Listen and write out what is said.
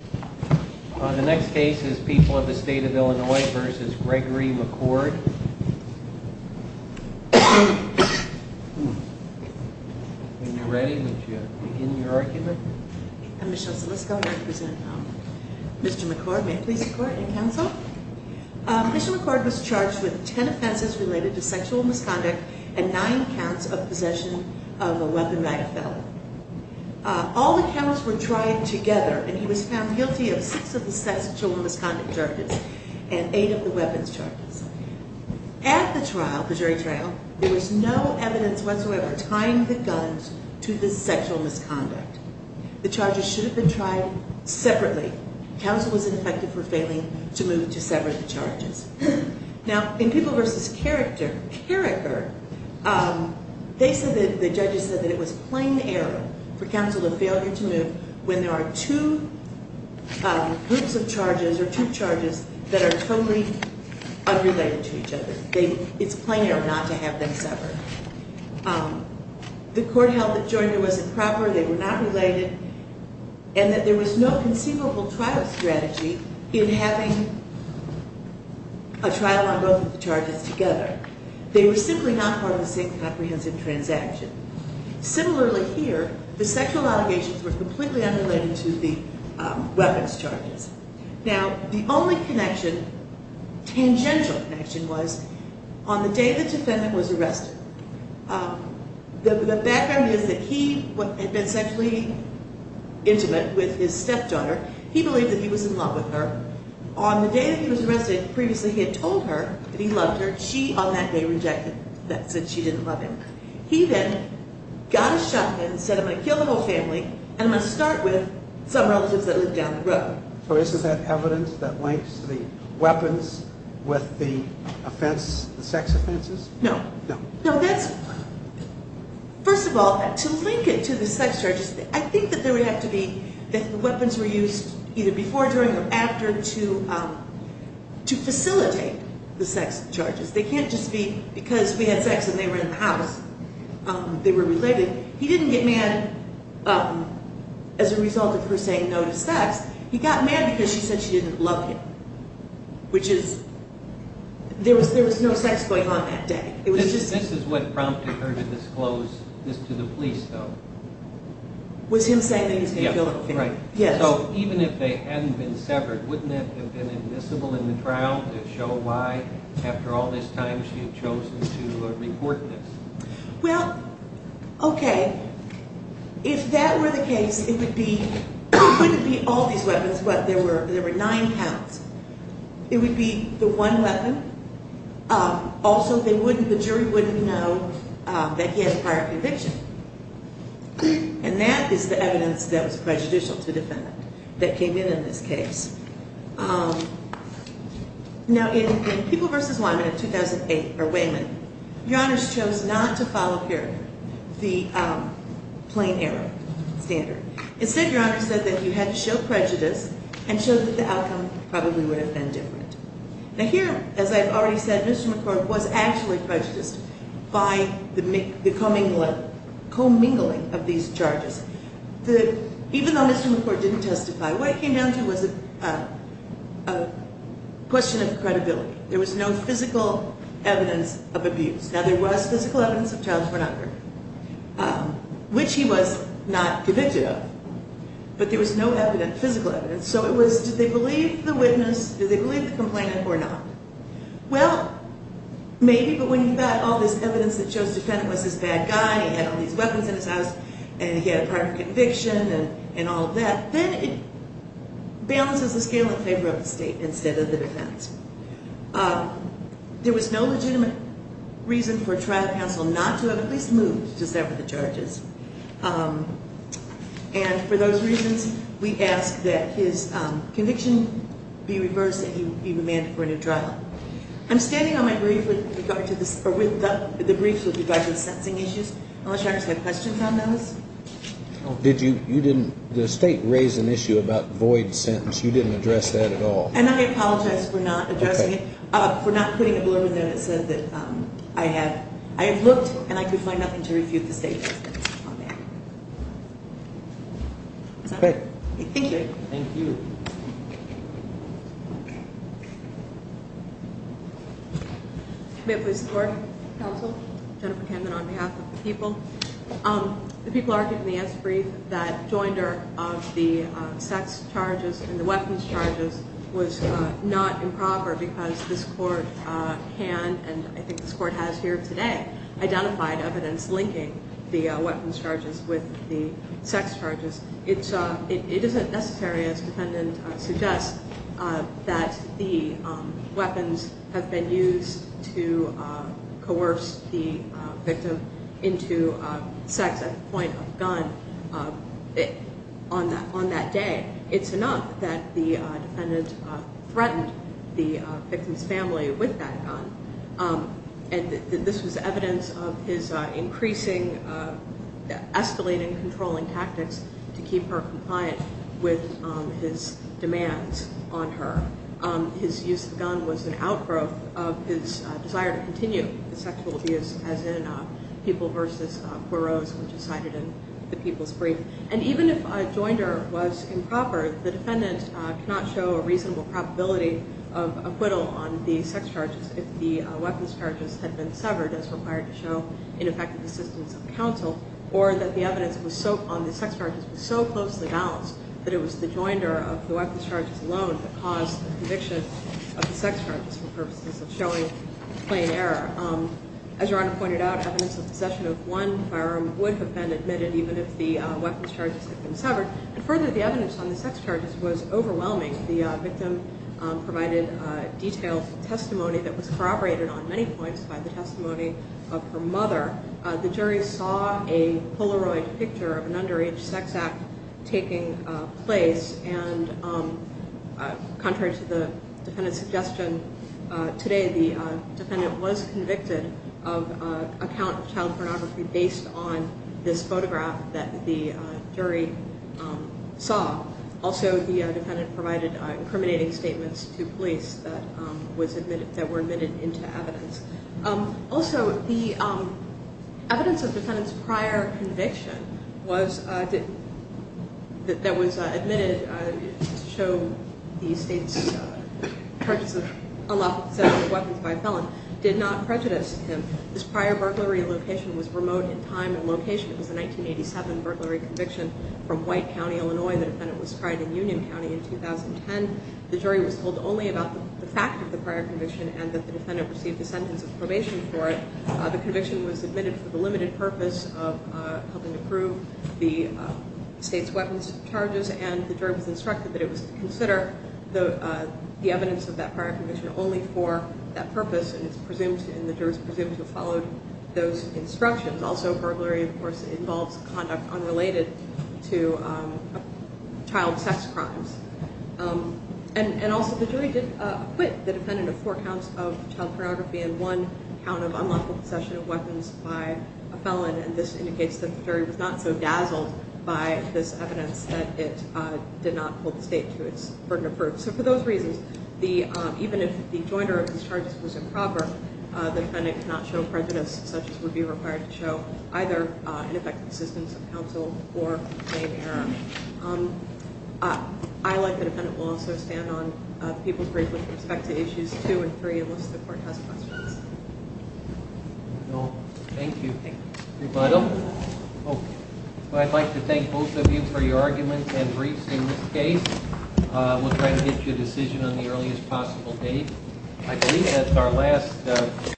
The next case is People of the State of Illinois v. Gregory McCord. When you're ready, would you begin your argument? I'm Michelle Salisco and I present Mr. McCord. May it please the court and counsel. Mr. McCord was charged with 10 offenses related to sexual misconduct and 9 counts of possession of a weapon by a felon. All the counts were tried together and he was found guilty of 6 of the sexual misconduct charges and 8 of the weapons charges. At the trial, the jury trial, there was no evidence whatsoever tying the guns to the sexual misconduct. The charges should have been tried separately. Counsel was ineffective for failing to move to sever the charges. Now, in People v. Carriker, the judges said that it was plain error for counsel to fail to move when there are 2 groups of charges or 2 charges that are totally unrelated to each other. It's plain error not to have them severed. The court held the jury wasn't proper, they were not related, and that there was no conceivable trial strategy in having a trial on both of the charges together. They were simply not part of the same comprehensive transaction. Similarly here, the sexual allegations were completely unrelated to the weapons charges. Now, the only connection, tangential connection, was on the day the defendant was arrested. The background is that he had been sexually intimate with his stepdaughter. He believed that he was in love with her. On the day that he was arrested, previously he had told her that he loved her. She, on that day, rejected that, said she didn't love him. He then got a shotgun, said I'm going to kill the whole family, and I'm going to start with some relatives that lived down the road. So isn't that evidence that links the weapons with the offense, the sex offenses? No. No. No, that's, first of all, to link it to the sex charges, I think that there would have to be, that the weapons were used either before, during, or after to facilitate the sex charges. They can't just be because we had sex and they were in the house, they were related. He didn't get mad as a result of her saying no to sex. He got mad because she said she didn't love him, which is, there was no sex going on that day. This is what prompted her to disclose this to the police, though. Was him saying that he was going to kill the whole family. Yes. So even if they hadn't been severed, wouldn't it have been admissible in the trial to show why, after all this time, she had chosen to report this? Well, okay. If that were the case, it would be, it wouldn't be all these weapons, but there were nine counts. It would be the one weapon. Also, they wouldn't, the jury wouldn't know that he had a prior conviction. And that is the evidence that was prejudicial to the defendant that came in in this case. Now, in People v. Wayman in 2008, your honors chose not to follow, here, the plain error standard. Instead, your honors said that you had to show prejudice and show that the outcome probably would have been different. Now, here, as I've already said, Mr. McCord was actually prejudiced by the commingling of these charges. Even though Mr. McCord didn't testify, what it came down to was a question of credibility. There was no physical evidence of abuse. Now, there was physical evidence of child pornography, which he was not convicted of, but there was no physical evidence. So it was, did they believe the witness? Did they believe the complainant or not? Well, maybe, but when you've got all this evidence that shows the defendant was this bad guy, and he had all these weapons in his house, and he had a prior conviction, and all of that, then it balances the scale in favor of the state instead of the defense. There was no legitimate reason for trial counsel not to have at least moved to sever the charges. And for those reasons, we ask that his conviction be reversed and he be remanded for a new trial. I'm standing on my brief with regard to this, or with the briefs with regard to the sentencing issues, unless your honors have questions on those. Did you, you didn't, the state raised an issue about void sentence. You didn't address that at all. And I apologize for not addressing it, for not putting a blurb in there that said that I had, I had looked, and I could find nothing to refute the state's statement on that. Great. Thank you. May I please report? Counsel. Jennifer Camden on behalf of the people. The people argued in the S brief that joinder of the sex charges and the weapons charges was not improper because this court can, and I think this court has here today, identified evidence linking the weapons charges with the sex charges. It's, it isn't necessary, as the defendant suggests, that the weapons have been used to coerce the victim into sex at the point of the gun on that day. It's enough that the defendant threatened the victim's family with that gun, and this was evidence of his increasing, escalating controlling tactics to keep her compliant with his demands on her. His use of the gun was an outgrowth of his desire to continue the sexual abuse, as in people versus quereaus, which is cited in the people's brief. And even if a joinder was improper, the defendant cannot show a reasonable probability of acquittal on the sex charges if the weapons charges had been severed, as required to show ineffective assistance of counsel, or that the evidence on the sex charges was so closely balanced that it was the joinder of the weapons charges alone that caused the conviction of the sex charges for purposes of showing plain error. As Your Honor pointed out, evidence of possession of one firearm would have been admitted even if the weapons charges had been severed. And further, the evidence on the sex charges was overwhelming. The victim provided detailed testimony that was corroborated on many points by the testimony of her mother. The jury saw a Polaroid picture of an underage sex act taking place, and contrary to the defendant's suggestion, today the defendant was convicted of account of child pornography based on this photograph that the jury saw. Also, the defendant provided incriminating statements to police that were admitted into evidence. Also, the evidence of the defendant's prior conviction that was admitted to show the state's charges of unlawful possession of weapons by a felon did not prejudice him. This prior burglary location was remote in time and location. It was a 1987 burglary conviction from White County, Illinois. The defendant was tried in Union County in 2010. The jury was told only about the fact of the prior conviction and that the defendant received a sentence of probation for it. The conviction was admitted for the limited purpose of helping to prove the state's weapons charges, and the jury was instructed that it was to consider the evidence of that prior conviction only for that purpose, and the jury was presumed to have followed those instructions. Also, burglary, of course, involves conduct unrelated to child sex crimes. Also, the jury did acquit the defendant of four counts of child pornography and one count of unlawful possession of weapons by a felon, and this indicates that the jury was not so dazzled by this evidence that it did not hold the state to its burden of proof. So for those reasons, even if the jointer of these charges was improper, the defendant cannot show prejudice such as would be required to show either ineffective assistance of counsel or plain error. I, like the defendant, will also stand on the people's brief with respect to Issues 2 and 3 unless the court has questions. Thank you. I'd like to thank both of you for your arguments and briefs in this case. We'll try to get you a decision on the earliest possible date.